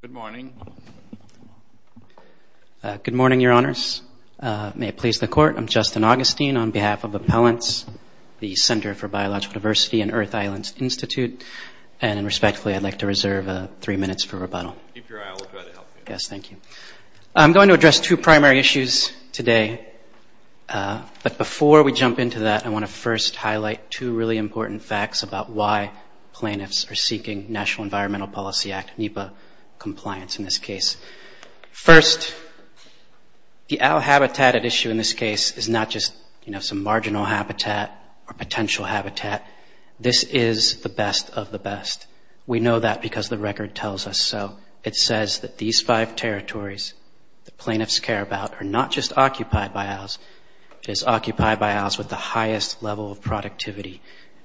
Good morning. Good morning, your honors. May it please the court, I'm Justin Augustine on behalf of Appellants, the Center for Biological Diversity and Earth Islands Institute, and respectfully I'd like to reserve three minutes for rebuttal. Yes, thank you. I'm going to address two primary issues today, but before we jump into that, I want to first highlight two really important facts about why plaintiffs are seeking National Environmental Policy Act, NEPA, compliance in this case. First, the owl habitat at issue in this case is not just, you know, some marginal habitat or potential habitat. This is the best of the best. We know that because the record tells us so. It says that these five territories the plaintiffs care about are not just occupied by owls, it is occupied by owls with the highest level of productivity,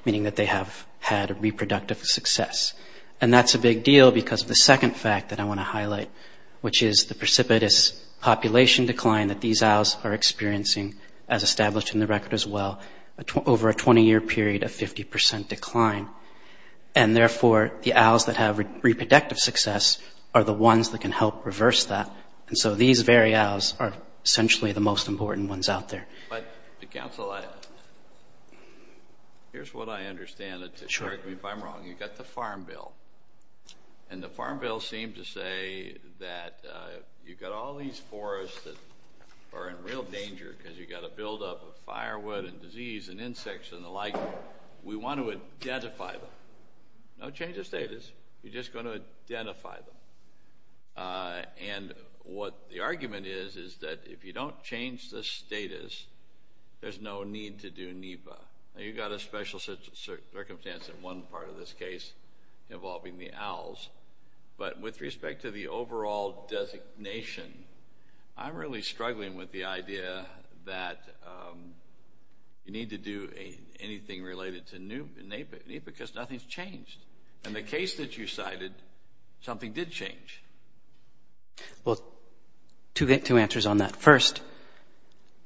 meaning that they have had a reproductive success, and that's a big deal because of the second fact that I want to highlight, which is the precipitous population decline that these owls are experiencing, as established in the record as well, over a 20-year period of 50% decline, and therefore the owls that have reproductive success are the ones that can help reverse that, and so these very owls are essentially the most important ones out there. Here's what I understand. If I'm wrong, you've got the Farm Bill, and the Farm Bill seemed to say that you've got all these forests that are in real danger because you've got a buildup of firewood and disease and insects and the like. We want to identify them. No change of status. You're just going to identify them, and what the argument is is that if you don't change the status, there's no need to do NEPA. You've got a special circumstance in one part of this case involving the owls, but with respect to the overall designation, I'm really struggling with the idea that you need to do anything related to NEPA because nothing's changed, and the case that you cited, something did change. Well, two answers on that. First,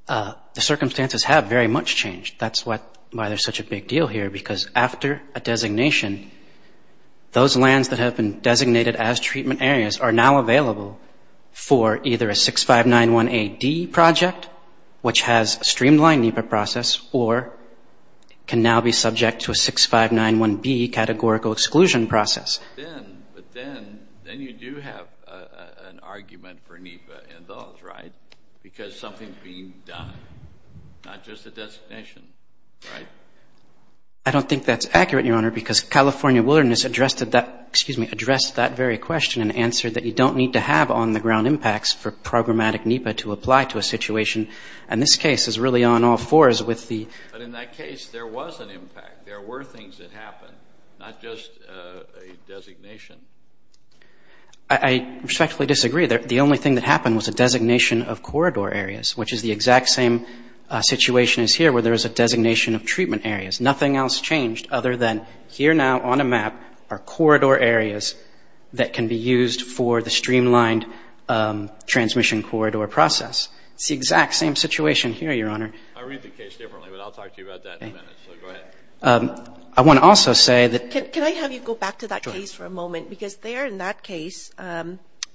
the circumstances have very much changed. That's why there's such a big deal here, because after a designation, those lands that have been designated as treatment areas are now available for either a 6591A-D project, which has a streamlined NEPA process, or can now be subject to a 6591B categorical exclusion process. But then you do have an argument for NEPA in those, right? Because something's being done, not just a designation. Right. I don't think that's accurate, Your Honor, because California Wilderness addressed that very question and answered that you don't need to have on-the-ground impacts for programmatic NEPA to apply to a situation, and this case is really on all fours with the... But in that case, there was an impact. There were things that happened, not just a designation. I respectfully disagree. The only thing that happened was a designation of corridor areas, which is the exact same situation as here, where there is a designation of treatment areas. Nothing else changed other than here now on a map are corridor areas that can be used for the streamlined transmission corridor process. It's the exact same situation here, Your Honor. I read the case differently, but I'll talk to you about that in a minute, so go ahead. I want to also say that... Can I have you go back to that case for a moment? Because there in that case, the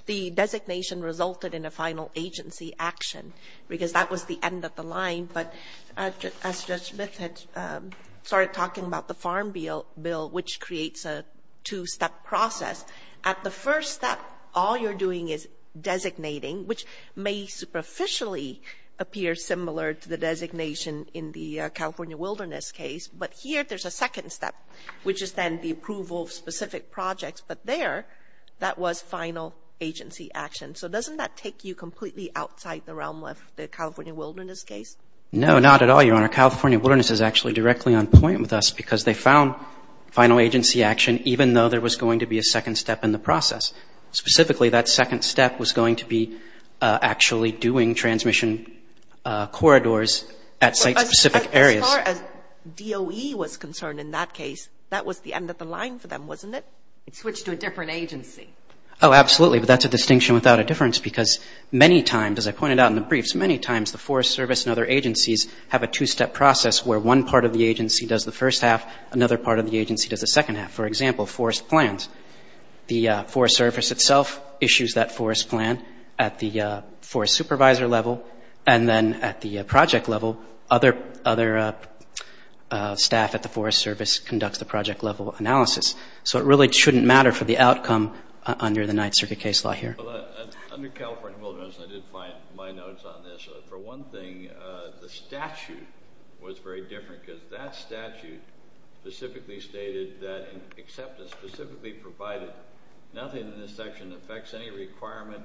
end of the line, but as Judge Smith had started talking about the Farm Bill, which creates a two-step process. At the first step, all you're doing is designating, which may superficially appear similar to the designation in the California Wilderness case, but here there's a second step, which is then the approval of specific projects. But there, that was final agency action. So doesn't that take you completely outside the realm of the California Wilderness case? No, not at all, Your Honor. California Wilderness is actually directly on point with us, because they found final agency action, even though there was going to be a second step in the process. Specifically, that second step was going to be actually doing transmission corridors at site-specific areas. As far as DOE was concerned in that case, that was the end of the line for them, wasn't it? It switched to a different agency. Oh, absolutely, but that's a distinction without a difference, because many times, as I pointed out in the briefs, many times the Forest Service and other agencies have a two-step process where one part of the agency does the first half, another part of the agency does the second half. For example, forest plans. The Forest Service itself issues that forest plan at the forest supervisor level, and then at the project level, other staff at the Forest Service conducts the project level analysis. So it really shouldn't matter for the outcome under the Ninth Circuit case law here. Under California Wilderness, I did find my notes on this. For one thing, the statute was very different, because that statute specifically stated that acceptance, specifically provided, nothing in this section affects any requirement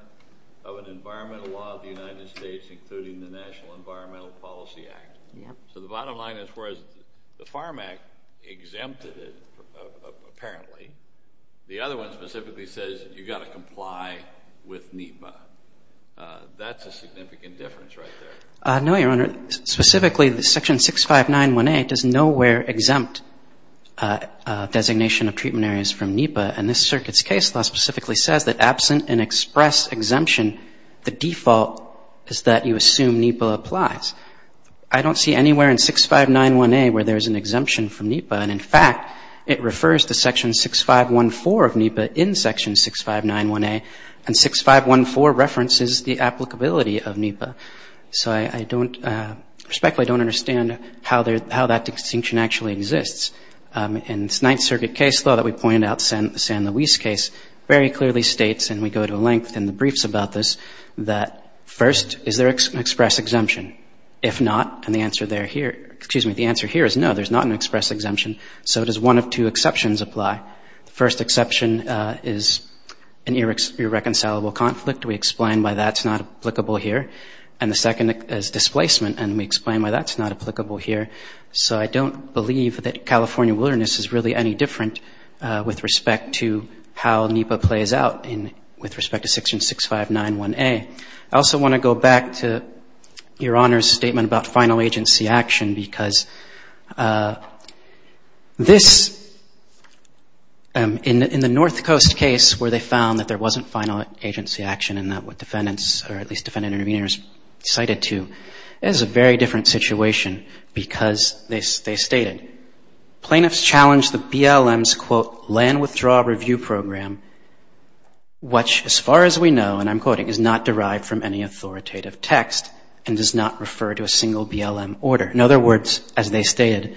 of an environmental law of the United States, including the National Environmental Policy Act. So the bottom line is, whereas the Farm Act exempted it, apparently, the other one specifically says you've got to comply with NEPA. That's a significant difference right there. No, Your Honor. Specifically, Section 6591A does nowhere exempt designation of treatment areas from NEPA, and this circuit's case law specifically says that absent an express exemption, the default is that you assume NEPA applies. I don't see anywhere in 6591A where there's an exemption from NEPA, and in fact, it refers to Section 6514 of NEPA in Section 6591A, and 6514 references the applicability of NEPA. So I don't, respectfully, I don't understand how that distinction actually exists. In Ninth Circuit case law that we pointed out, the San Luis case, very clearly states, and we go to length in the briefs about this, that first, is there an express exemption? If not, and the answer there here, excuse me, the answer here is no, there's not an express exemption. So it says one of two exceptions apply. The first exception is an irreconcilable conflict. We explain why that's not applicable here, and the second is displacement, and we explain why that's not applicable here. So I don't believe that California wilderness is really any different with respect to how NEPA plays out in, with respect to Section 6591A. I also want to go back to Your Honor's statement about final agency action, because this, in the North Coast case, where they found that there wasn't final agency action, and that what defendants, or at least defendant-intervenors cited to, is a very different situation, because they stated, plaintiffs challenged the BLM's, quote, land withdrawal review program, which, as far as we know, and I'm quoting, is not referred to a single BLM order. In other words, as they stated,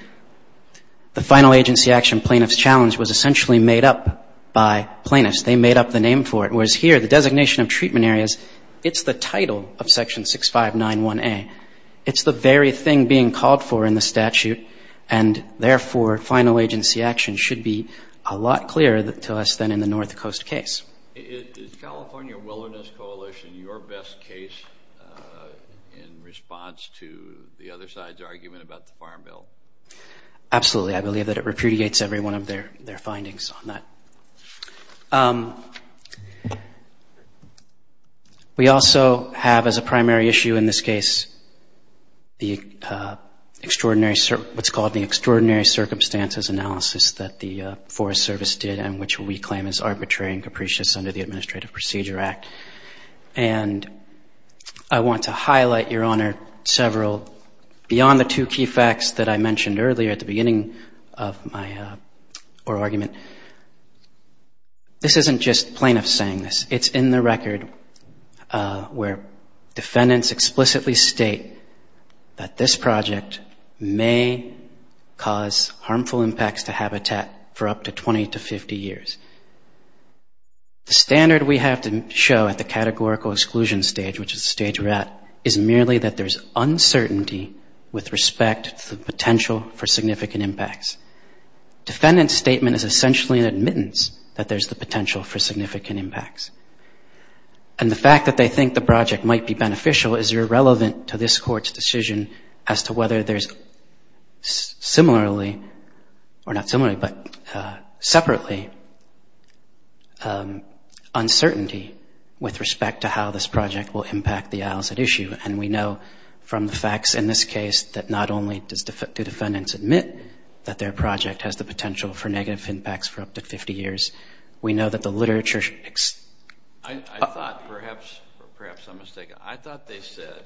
the final agency action plaintiff's challenge was essentially made up by plaintiffs. They made up the name for it. Whereas here, the designation of treatment areas, it's the title of Section 6591A. It's the very thing being called for in the statute, and therefore, final agency action should be a lot clearer to us than in the North Coast case. Is California Wilderness Coalition your best case in response to the other side's argument about the Farm Bill? Absolutely. I believe that it repudiates every one of their, their findings on that. We also have, as a primary issue in this case, the extraordinary, what's called the Extraordinary Circumstances Analysis that the Forest Service did, and which we claim is arbitrary and capricious under the Administrative Procedure Act. And I want to highlight, Your Honor, several, beyond the two key facts that I mentioned earlier at the beginning of my oral argument. This isn't just plaintiffs saying this. It's in the record where defendants explicitly state that this project may cause harmful impacts to habitat for up to 20 to 50 years. The standard we have to show at the categorical exclusion stage, which is the stage we're at, is merely that there's uncertainty with respect to the potential for significant impacts. Defendant's statement is essentially an admittance that there's the potential for significant impacts. And the fact that they think the project might be beneficial is irrelevant to this Court's decision as to whether there's similarly, or not similarly, but separately, uncertainty with respect to how this project will impact the isles at issue. And we know from the facts in this case that not only do defendants admit that their project has the potential for negative impacts for up to 50 years, we know that the literature... I thought perhaps, or perhaps I'm mistaken, I thought they said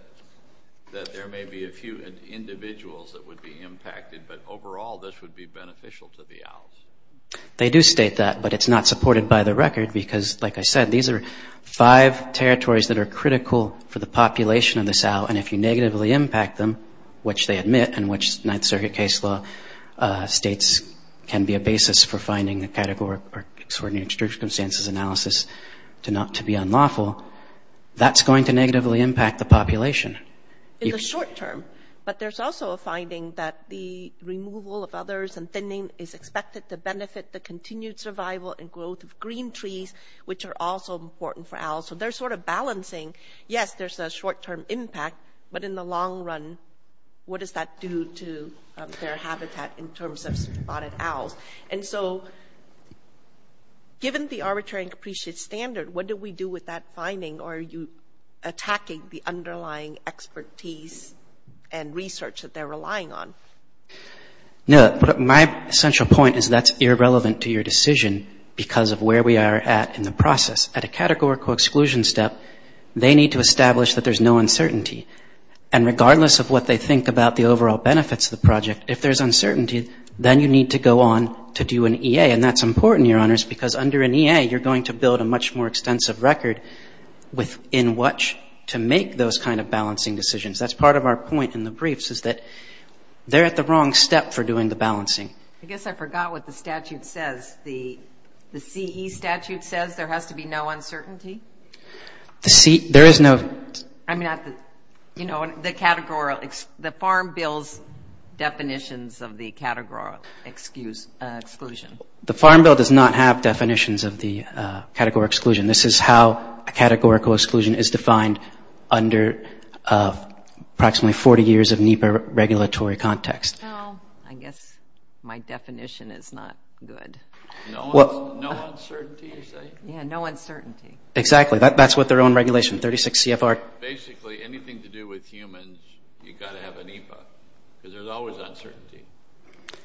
that there may be a few individuals that would be impacted, but overall, this would be beneficial to the isles. They do state that, but it's not supported by the record because, like I said, these are five territories that are critical for the population of this isle. And if you negatively impact them, which they admit, and which Ninth Circuit case law states can be a basis for finding the category or extraordinary circumstances analysis to be unlawful, that's going to negatively impact the population. In the short term. But there's also a finding that the removal of others and thinning is expected to benefit the continued survival and growth of green trees, which are also important for isles. So they're sort of balancing, yes, there's a short-term impact, but in the long run, what does that do to their Given the arbitrary and capricious standard, what do we do with that finding? Or are you attacking the underlying expertise and research that they're relying on? No, but my central point is that's irrelevant to your decision because of where we are at in the process. At a categorical exclusion step, they need to establish that there's no uncertainty. And regardless of what they think about the overall benefits of the project, if there's uncertainty, then you need to go on to do an EA. And that's important, Your Honors, because under an EA, you're going to build a much more extensive record within which to make those kind of balancing decisions. That's part of our point in the briefs is that they're at the wrong step for doing the balancing. I guess I forgot what the statute says. The CE statute says there has to be no uncertainty. The CE, there is no. I mean, you know, the categorical, the Farm Bill's definitions of the categorical exclusion. The Farm Bill does not have definitions of the categorical exclusion. This is how a categorical exclusion is defined under approximately 40 years of NEPA regulatory context. Oh, I guess my definition is not good. No uncertainty, you say? Yeah, no uncertainty. Exactly. That's what their own regulation, 36 CFR. Basically, anything to do with humans, you've got to have a NEPA because there's always uncertainty.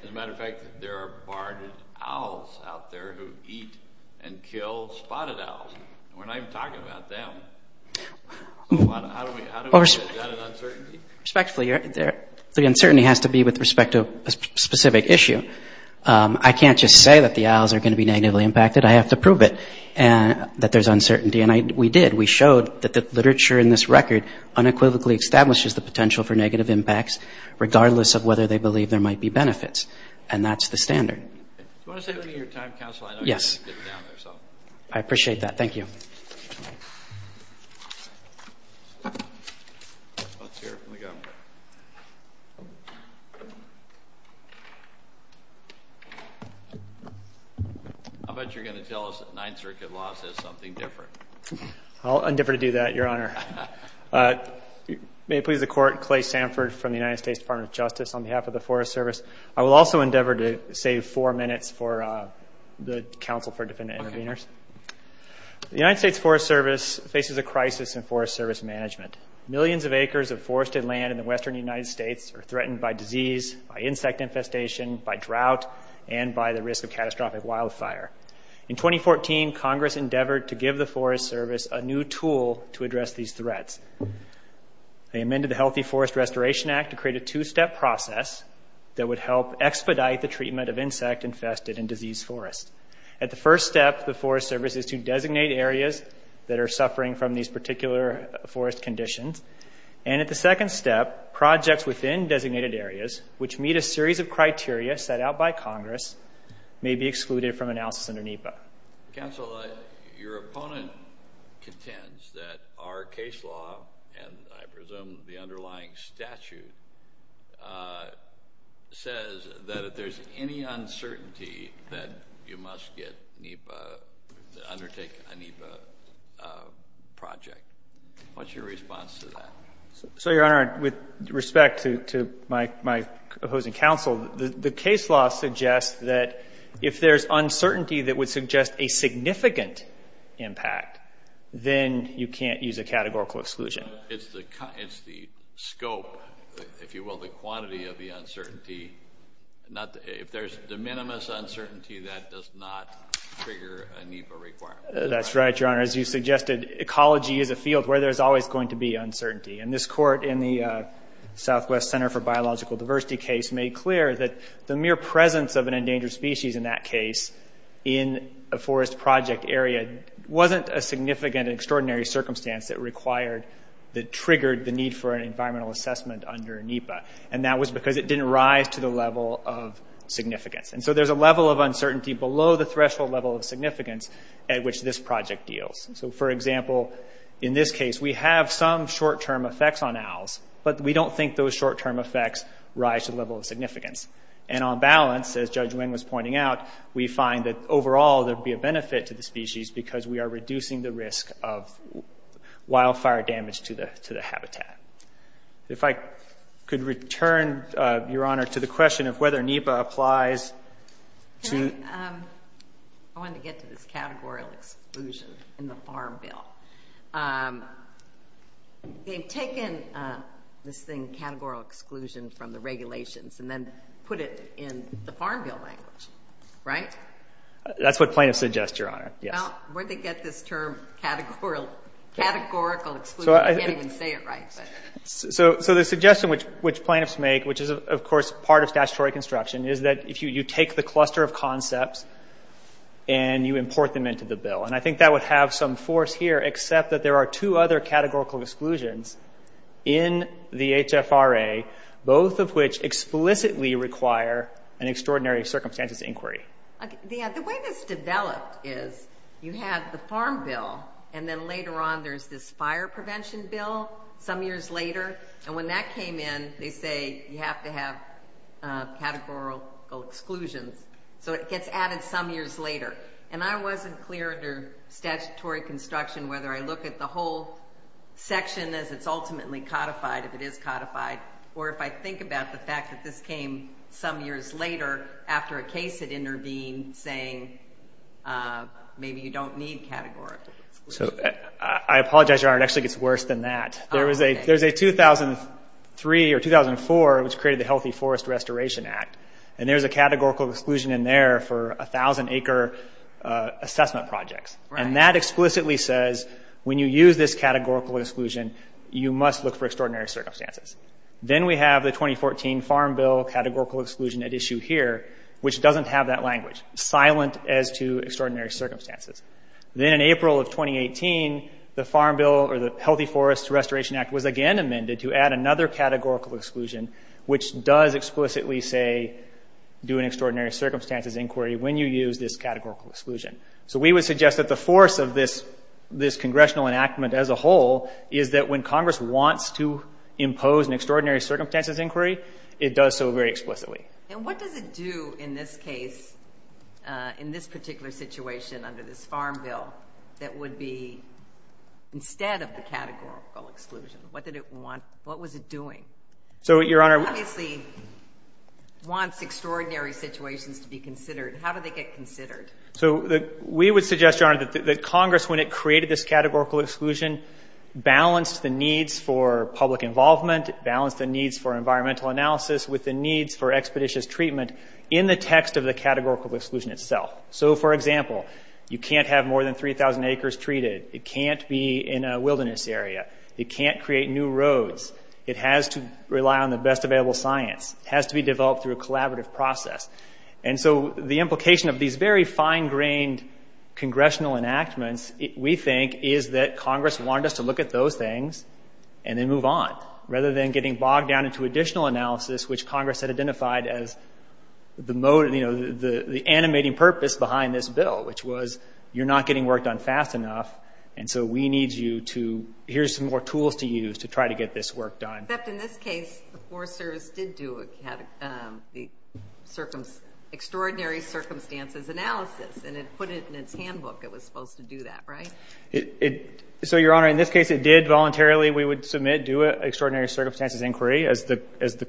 As a matter of fact, there are barred owls out there who eat and kill spotted owls. We're not even talking about them. How do we, is that an uncertainty? Respectfully, the uncertainty has to be with respect to a specific issue. I can't just say that the owls are going to be negatively impacted. I have to prove it and that there's uncertainty. And we did. We showed that the literature in this record unequivocally establishes the potential for negative impacts, regardless of whether they believe there might be and that's the standard. Do you want to say anything on your time, counsel? I know you're going to get down there. So I appreciate that. Thank you. How about you're going to tell us that Ninth Circuit law says something different? I'll endeavor to do that, Your Honor. May it please the court, Clay Sanford from the United States Department of Justice on behalf of the Forest Service. I will also endeavor to save four minutes for the counsel for defendant intervenors. The United States Forest Service faces a crisis in forest service management. Millions of acres of forested land in the Western United States are threatened by disease, by insect infestation, by drought, and by the risk of catastrophic wildfire. In 2014, Congress endeavored to give the Forest Service a new tool to address these threats. They amended the Healthy Forest Restoration Act to create a two-step process that would help expedite the treatment of insect infested and diseased forests. At the first step, the Forest Service is to designate areas that are suffering from these particular forest conditions. And at the second step, projects within designated areas, which meet a series of criteria set out by Congress, may be excluded from analysis under NEPA. Counsel, your opponent contends that our case law, and I presume the underlying statute, says that if there's any uncertainty, that you must get NEPA, undertake a NEPA project. What's your response to that? So, Your Honor, with respect to my opposing counsel, the case law suggests that if there's uncertainty that would suggest a significant impact, then you can't use a categorical exclusion. It's the scope, if you will, the quantity of the uncertainty. If there's de minimis uncertainty, that does not trigger a NEPA requirement. That's right, Your Honor. As you suggested, ecology is a field where there's always going to be uncertainty. And this court in the Southwest Center for Biological Diversity case made clear that the mere presence of an endangered species in that case in a forest project area wasn't a significant and extraordinary circumstance that triggered the need for an environmental assessment under NEPA. And that was because it didn't rise to the level of significance. And so there's a level of uncertainty below the threshold level of significance at which this project deals. So, for example, in this case, we have some short-term effects on owls, but we don't think those short-term effects rise to the level of significance. And on balance, as Judge Wing was pointing out, we find that overall there won't be a benefit to the species because we are reducing the risk of wildfire damage to the habitat. If I could return, Your Honor, to the question of whether NEPA applies to... I wanted to get to this categorical exclusion in the Farm Bill. They've taken this thing, categorical exclusion, from the regulations and then put it in the Farm Bill language, right? That's what plaintiffs suggest, Your Honor. Well, where'd they get this term, categorical exclusion? You can't even say it right. So the suggestion which plaintiffs make, which is, of course, part of statutory construction, is that if you take the cluster of concepts and you import them into the bill. And I think that would have some force here, except that there are two other categorical exclusions in the HFRA, both of which explicitly require an extraordinary circumstances inquiry. The way this developed is you have the Farm Bill, and then later on there's this fire prevention bill, some years later. And when that came in, they say you have to have categorical exclusions. So it gets added some years later. And I wasn't clear under statutory construction whether I look at the whole section as it's ultimately codified, if it is codified, or if I think about the case came some years later, after a case had intervened, saying maybe you don't need categorical exclusions. So I apologize, Your Honor, it actually gets worse than that. There was a 2003 or 2004, which created the Healthy Forest Restoration Act, and there's a categorical exclusion in there for 1,000 acre assessment projects. And that explicitly says when you use this categorical exclusion, you must look for extraordinary circumstances. Then we have the 2014 Farm Bill categorical exclusion at issue here, which doesn't have that language, silent as to extraordinary circumstances. Then in April of 2018, the Farm Bill or the Healthy Forest Restoration Act was again amended to add another categorical exclusion, which does explicitly say do an extraordinary circumstances inquiry when you use this categorical exclusion. So we would suggest that the force of this congressional enactment as a whole is that when Congress wants to impose an extraordinary circumstances inquiry, it does so very explicitly. And what does it do in this case, in this particular situation under this Farm Bill, that would be instead of the categorical exclusion? What did it want? What was it doing? So, Your Honor, It obviously wants extraordinary situations to be considered. How do they get considered? So we would suggest, Your Honor, that Congress, when it created this categorical exclusion, balanced the needs for public involvement, balanced the needs for environmental analysis with the needs for expeditious treatment in the text of the categorical exclusion itself. So, for example, you can't have more than 3,000 acres treated. It can't be in a wilderness area. It can't create new roads. It has to rely on the best available science. It has to be developed through a collaborative process. And so the implication of these very fine-grained congressional enactments, we think, is that Congress wanted us to look at those things and then move on, rather than getting bogged down into additional analysis, which Congress had identified as the motivating, you know, the animating purpose behind this bill, which was you're not getting work done fast enough. And so we need you to, here's some more tools to use to try to get this work done. Except in this case, the Forest Service did do a extraordinary circumstances analysis and it put it in its handbook. It was supposed to do that, right? So, Your Honor, in this case, it did voluntarily. We would submit, do an extraordinary circumstances inquiry. As the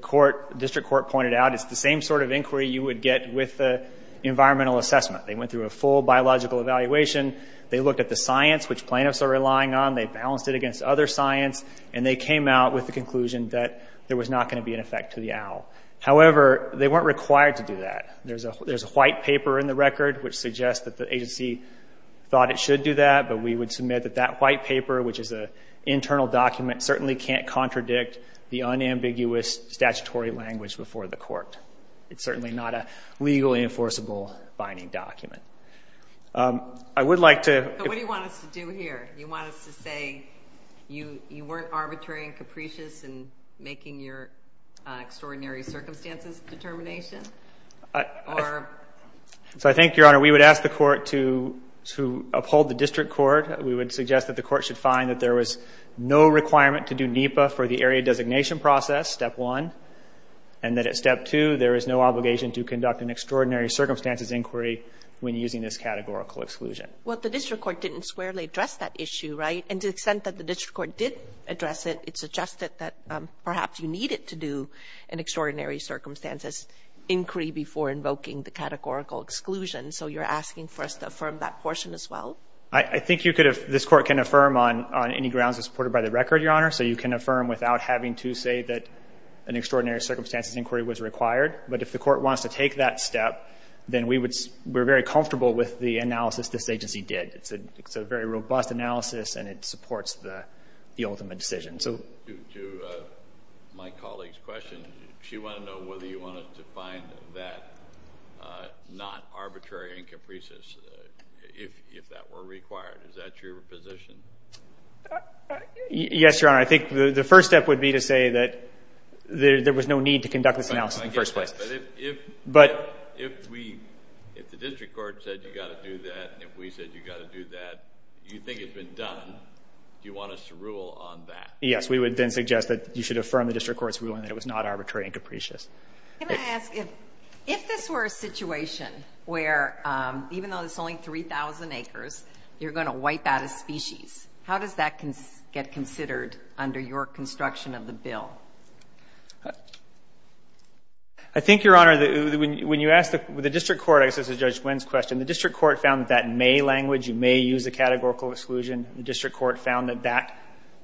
court, district court pointed out, it's the same sort of inquiry you would get with the environmental assessment. They went through a full biological evaluation. They looked at the science, which plaintiffs are relying on. They balanced it against other science. And they came out with the conclusion that there was not going to be an effect to the owl. However, they weren't required to do that. There's a white paper in the record which suggests that the agency thought it should do that, but we would submit that that white paper, which is an internal document, certainly can't contradict the unambiguous statutory language before the court. It's certainly not a legally enforceable binding document. I would like to... But what do you want us to do here? You want us to say you weren't arbitrary and capricious in making your extraordinary circumstances determination? So I think, Your Honor, we would ask the court to uphold the district court. We would suggest that the court should find that there was no requirement to do NEPA for the area designation process, step one, and that at step two, there is no obligation to conduct an extraordinary circumstances inquiry when using this categorical exclusion. Well, the district court didn't squarely address that issue, right? And to the extent that the district court did address it, it suggested that perhaps you needed to do an extraordinary circumstances inquiry before invoking the categorical exclusion. So you're asking for us to affirm that portion as well? I think this court can affirm on any grounds supported by the record, Your Honor. So you can affirm without having to say that an extraordinary circumstances inquiry was required. But if the court wants to take that step, then we're very comfortable with the analysis this agency did. It's a very robust analysis and it supports the ultimate decision. To my colleague's question, she wanted to know whether you wanted to find that not arbitrary in capricious, if that were required. Is that your position? Yes, Your Honor. I think the first step would be to say that there was no need to conduct this analysis in the first place. But if the district court said you got to do that, and if we said you got to do that, you think it's been done, do you want us to rule on that? Yes, we would then suggest that you should affirm the district court's ruling that it was not arbitrary and capricious. Can I ask, if this were a situation where, even though there's only 3,000 acres, you're going to wipe out a species, how does that get considered under your construction of the bill? I think, Your Honor, when you ask the district court, I guess this is Judge Wynn's question, the district court found that that may language, you may use a categorical exclusion. The district court found that that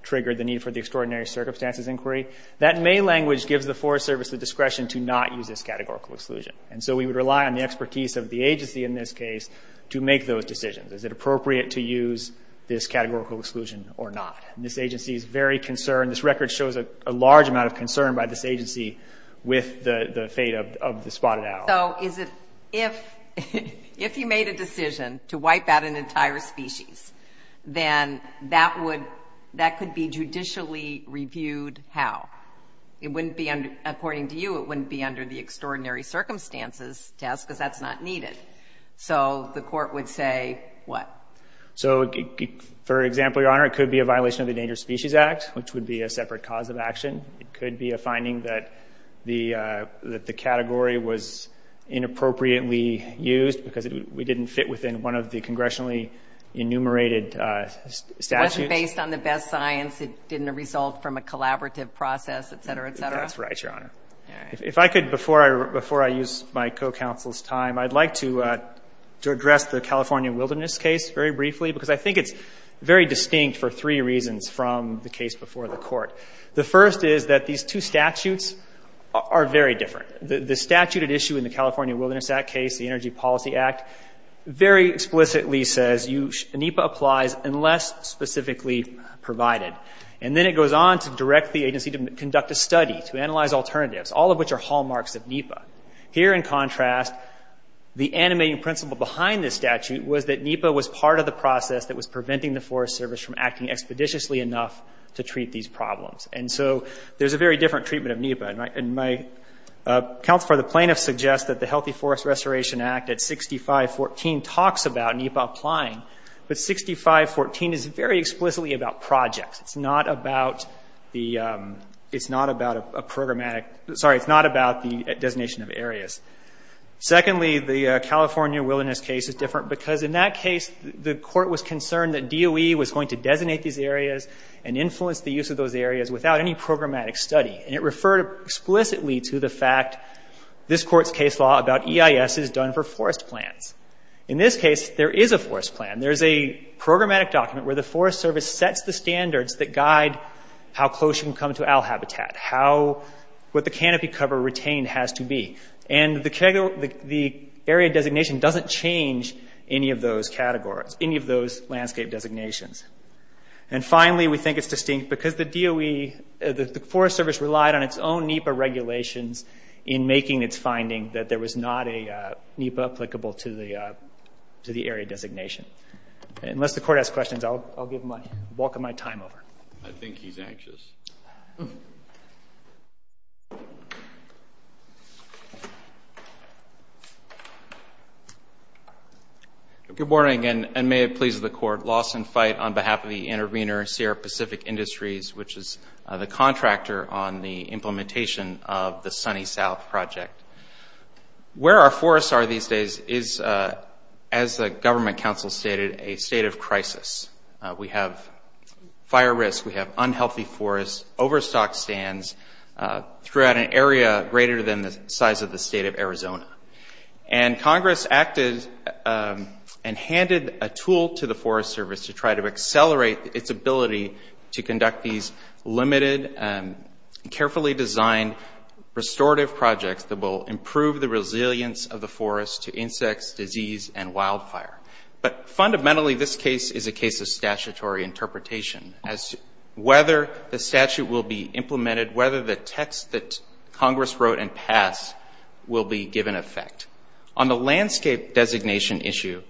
triggered the need for the extraordinary circumstances inquiry. That may language gives the Forest Service the discretion to not use this categorical exclusion. And so we would rely on the expertise of the agency in this case to make those decisions. Is it appropriate to use this categorical exclusion or not? And this agency is very concerned. This record shows a large amount of concern by this agency with the fate of the spotted owl. So is it, if, if you made a decision to wipe out an entire species, then that would, that could be judicially reviewed how? It wouldn't be under, according to you, it wouldn't be under the extraordinary circumstances test because that's not needed. So the court would say what? So for example, Your Honor, it could be a violation of the Endangered Species Act, which would be a separate cause of action. It could be a finding that the, uh, that the category was inappropriately used because we didn't fit within one of the congressionally enumerated, uh, statute. Based on the best science, it didn't result from a collaborative process, et cetera, et cetera. That's right, Your Honor. If I could, before I, before I use my co-counsel's time, I'd like to, uh, to address the California wilderness case very briefly, because I think it's very distinct for three reasons from the case before the court. The first is that these two statutes are very different. The statute at issue in the California wilderness act case, the Energy Policy Act, very explicitly says you, NEPA applies unless specifically provided. And then it goes on to direct the agency to conduct a study, to analyze alternatives, all of which are hallmarks of NEPA. Here in contrast, the animating principle behind this statute was that NEPA was part of the process that was preventing the Forest Service from acting expeditiously enough to treat these problems. And so there's a very different treatment of NEPA. And my, and my, uh, counsel for the plaintiff suggests that the Healthy Forest Restoration Act at 6514 talks about NEPA applying, but 6514 is very explicitly about projects. It's not about the, um, it's not about a programmatic, sorry, it's not about the designation of areas. Secondly, the California wilderness case is different because in that case, the and influence the use of those areas without any programmatic study. And it referred explicitly to the fact this court's case law about EIS is done for forest plants. In this case, there is a forest plan. There's a programmatic document where the Forest Service sets the standards that guide how close you can come to owl habitat, how, what the canopy cover retained has to be. And the area designation doesn't change any of those categories, any of those landscape designations. And finally, we think it's distinct because the DOE, uh, the Forest Service relied on its own NEPA regulations in making its finding that there was not a, uh, NEPA applicable to the, uh, to the area designation. And unless the court has questions, I'll, I'll give him a bulk of my time over. I think he's anxious. Good morning and may it please the court. Lawson Fite on behalf of the intervener, Sierra Pacific Industries, which is the contractor on the implementation of the Sunny South project, where our forests are these days is, uh, as the government council stated, a state of crisis. Uh, we have fire risk. We have unhealthy forests, overstock stands, uh, throughout an area greater than the size of the state of Arizona. And Congress acted, um, and handed a tool to the Forest Service to try to accelerate its ability to conduct these limited, um, carefully designed restorative projects that will improve the resilience of the forest to insects, disease, and wildfire. But fundamentally, this case is a case of statutory interpretation as to whether the statute will be implemented, whether the text that Congress wrote and On the landscape designation issue,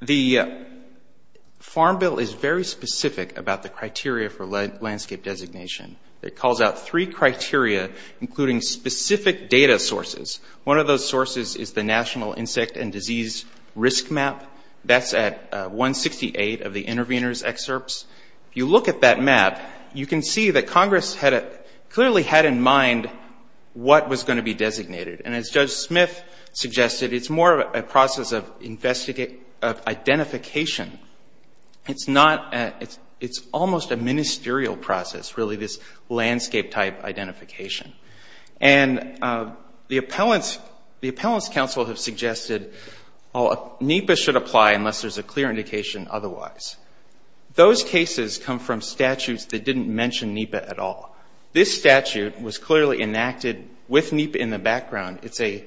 the Farm Bill is very specific about the criteria for landscape designation. It calls out three criteria, including specific data sources. One of those sources is the National Insect and Disease Risk Map. That's at, uh, 168 of the intervener's excerpts. If you look at that map, you can see that Congress had clearly had in And as Judge Smith suggested, it's more of a process of investigate, of identification. It's not, uh, it's, it's almost a ministerial process, really this landscape type identification. And, uh, the appellants, the appellants council have suggested, oh, NEPA should apply unless there's a clear indication otherwise. Those cases come from statutes that didn't mention NEPA at all. This statute was clearly enacted with NEPA in the background. It's a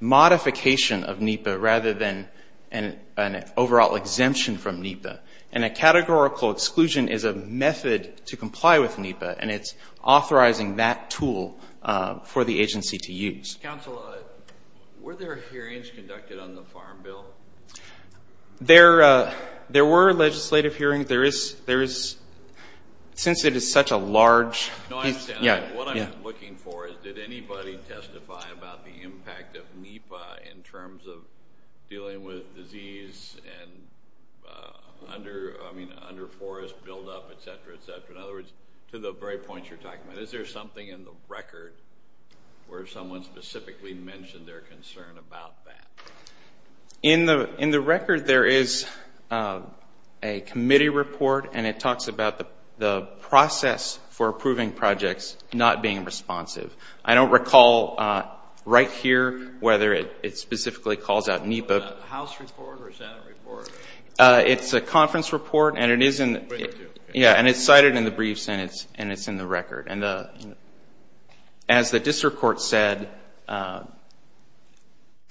modification of NEPA rather than an, an overall exemption from NEPA. And a categorical exclusion is a method to comply with NEPA. And it's authorizing that tool, uh, for the agency to use. Counsel, uh, were there hearings conducted on the Farm Bill? There, uh, there were legislative hearings. There is, there is, since it is such a large piece, yeah. What I'm looking for is, did anybody testify about the impact of NEPA in terms of dealing with disease and, uh, under, I mean, under forest buildup, et cetera, et cetera, in other words, to the very points you're talking about, is there something in the record where someone specifically mentioned their concern about that? In the, in the record, there is, uh, a committee report and it talks about the, the process for approving projects not being responsive. I don't recall, uh, right here, whether it, it specifically calls out NEPA. Was that a House report or a Senate report? Uh, it's a conference report and it is in the, yeah, and it's cited in the brief sentence and it's in the record. And the, as the district court said, uh,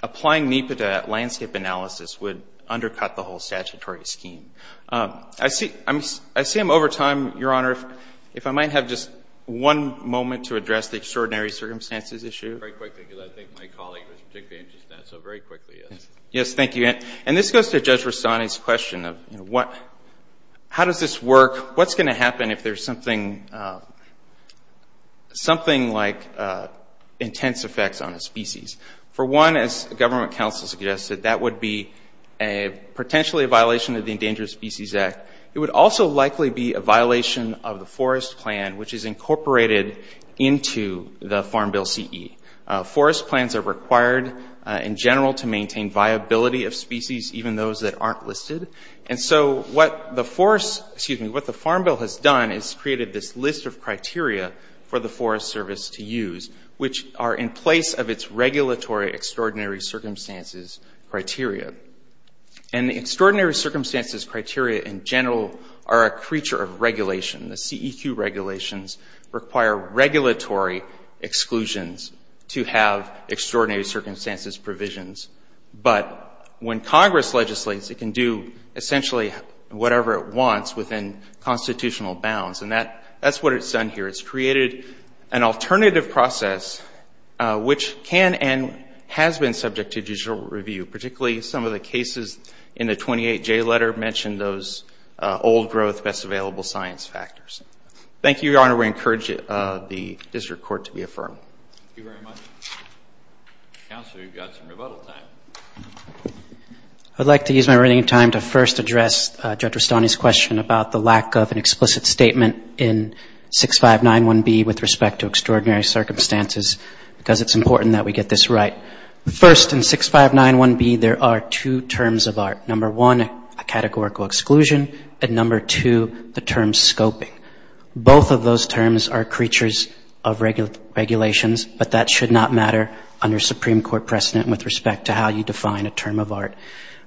applying NEPA to landscape analysis would undercut the whole statutory scheme. Um, I see, I'm, I see I'm over time, Your Honor, if, if I might have just one moment to address the extraordinary circumstances issue. Very quickly, because I think my colleague was particularly interested in that, so very quickly, yes. Yes, thank you. And, and this goes to Judge Rastani's question of, you know, what, how does this work, what's going to happen if there's something, uh, something like, uh, intense effects on a species? For one, as government counsel suggested, that would be a, potentially a violation of the Endangered Species Act. It would also likely be a violation of the forest plan, which is incorporated into the Farm Bill CE. Uh, forest plans are required, uh, in general to maintain viability of species, even those that aren't listed. And so what the forest, excuse me, what the Farm Bill has done is created this list of criteria for the Forest Service to use, which are in place of its regulatory extraordinary circumstances criteria. And the extraordinary circumstances criteria in general are a creature of regulation, the CEQ regulations require regulatory exclusions to have extraordinary circumstances provisions. But when Congress legislates, it can do essentially whatever it wants within constitutional bounds. And that, that's what it's done here. It's created an alternative process, uh, which can and has been subject to judicial review, particularly some of the cases in the 28J letter mentioned those, uh, old growth, best available science factors. Thank you, Your Honor. We encourage it, uh, the district court to be affirmed. Thank you very much. Counselor, you've got some rebuttal time. I'd like to use my remaining time to first address Judge Rastani's question about the lack of an explicit statement in 6591B with respect to extraordinary circumstances, because it's important that we get this right. First in 6591B, there are two terms of art. Number one, a categorical exclusion, and number two, the term scoping. Both of those terms are creatures of regular regulations, but that should not matter under Supreme Court precedent with respect to how you define a term of art,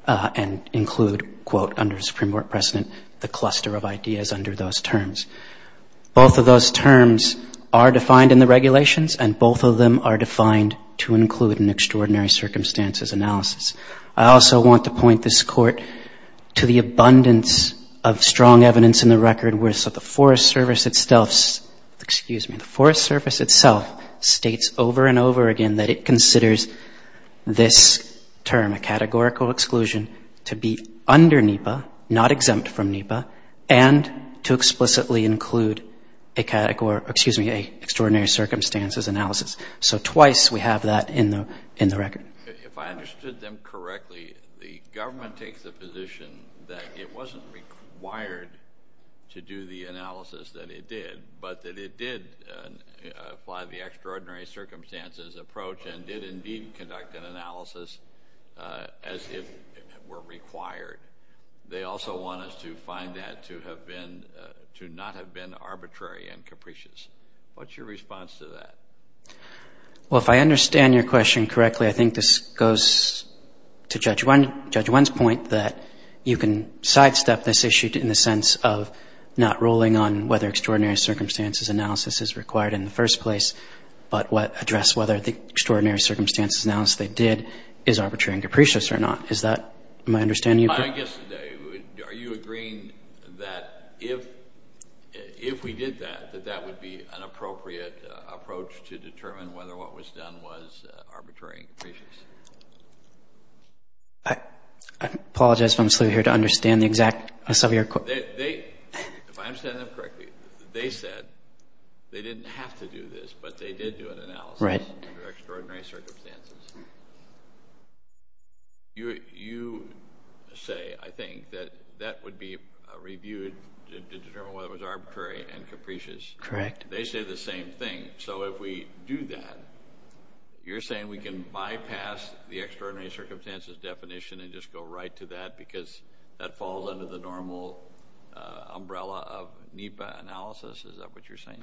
uh, and include quote under Supreme Court precedent, the cluster of ideas under those terms. Both of those terms are defined in the regulations and both of them are defined to include an extraordinary circumstances analysis. I also want to point this court to the abundance of strong evidence in the record where, so the Forest Service itself, excuse me, the Forest Service itself states over and over again that it considers this term, a categorical exclusion to be under NEPA, not exempt from NEPA, and to explicitly include a category, excuse me, a extraordinary circumstances analysis. So twice we have that in the, in the record. If I understood them correctly, the government takes the position that it didn't want to do the analysis that it did, but that it did apply the extraordinary circumstances approach and did indeed conduct an analysis, uh, as if it were required. They also want us to find that to have been, uh, to not have been arbitrary and capricious. What's your response to that? Well, if I understand your question correctly, I think this goes to Judge in the sense of not ruling on whether extraordinary circumstances analysis is required in the first place, but what address whether the extraordinary circumstances analysis they did is arbitrary and capricious or not. Is that my understanding? I guess, are you agreeing that if, if we did that, that that would be an appropriate approach to determine whether what was done was arbitrary and capricious? I apologize if I'm slow here to understand the exact, uh, some of your questions. They, they, if I understand them correctly, they said they didn't have to do this, but they did do an analysis under extraordinary circumstances. You, you say, I think that that would be reviewed to determine whether it was arbitrary and capricious. Correct. They say the same thing. The extraordinary circumstances definition and just go right to that because that falls under the normal, uh, umbrella of NEPA analysis. Is that what you're saying?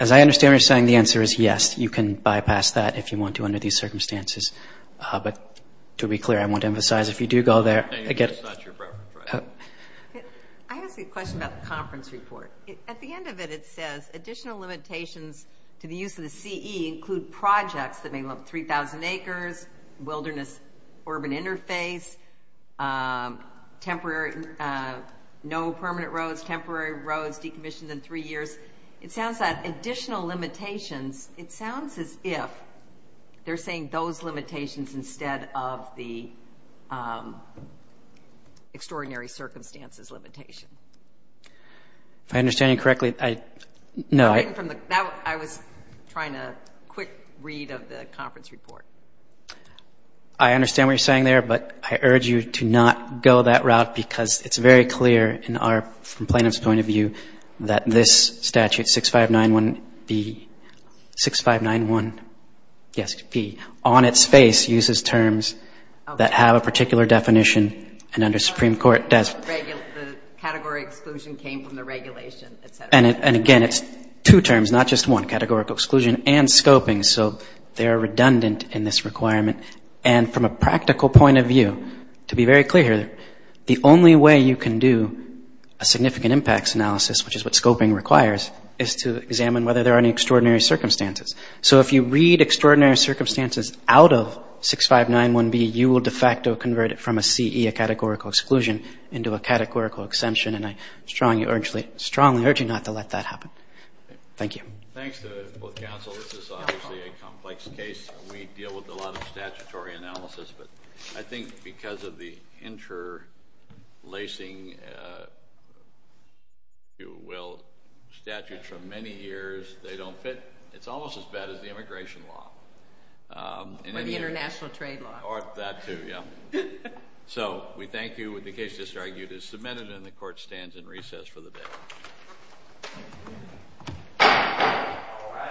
As I understand, you're saying the answer is yes, you can bypass that if you want to, under these circumstances. Uh, but to be clear, I want to emphasize if you do go there again, I have a question about the conference report. At the end of it, it says additional limitations to the use of the CE include projects that may look 3,000 acres, wilderness, urban interface, um, temporary, uh, no permanent roads, temporary roads decommissioned in three years. It sounds like additional limitations. It sounds as if they're saying those limitations instead of the, um, extraordinary circumstances limitation. If I understand you correctly, I, no, I... Read of the conference report. I understand what you're saying there, but I urge you to not go that route because it's very clear in our, from plaintiff's point of view, that this statute 6591B, 6591, yes, B, on its face uses terms that have a particular definition and under Supreme Court does. The category exclusion came from the regulation, et cetera. And it, and again, it's two terms, not just one categorical exclusion and scoping. So they are redundant in this requirement. And from a practical point of view, to be very clear here, the only way you can do a significant impacts analysis, which is what scoping requires, is to examine whether there are any extraordinary circumstances. So if you read extraordinary circumstances out of 6591B, you will de facto convert it from a CE, a categorical exclusion, into a categorical exemption. And I strongly urge you, strongly urge you not to let that happen. Thank you. Thanks to both counsel. This is obviously a complex case. We deal with a lot of statutory analysis, but I think because of the interlacing, if you will, statutes from many years, they don't fit. It's almost as bad as the immigration law. Or the international trade law. Or that too, yeah. So we thank you. The case just argued is submitted and the court stands in recess for the day.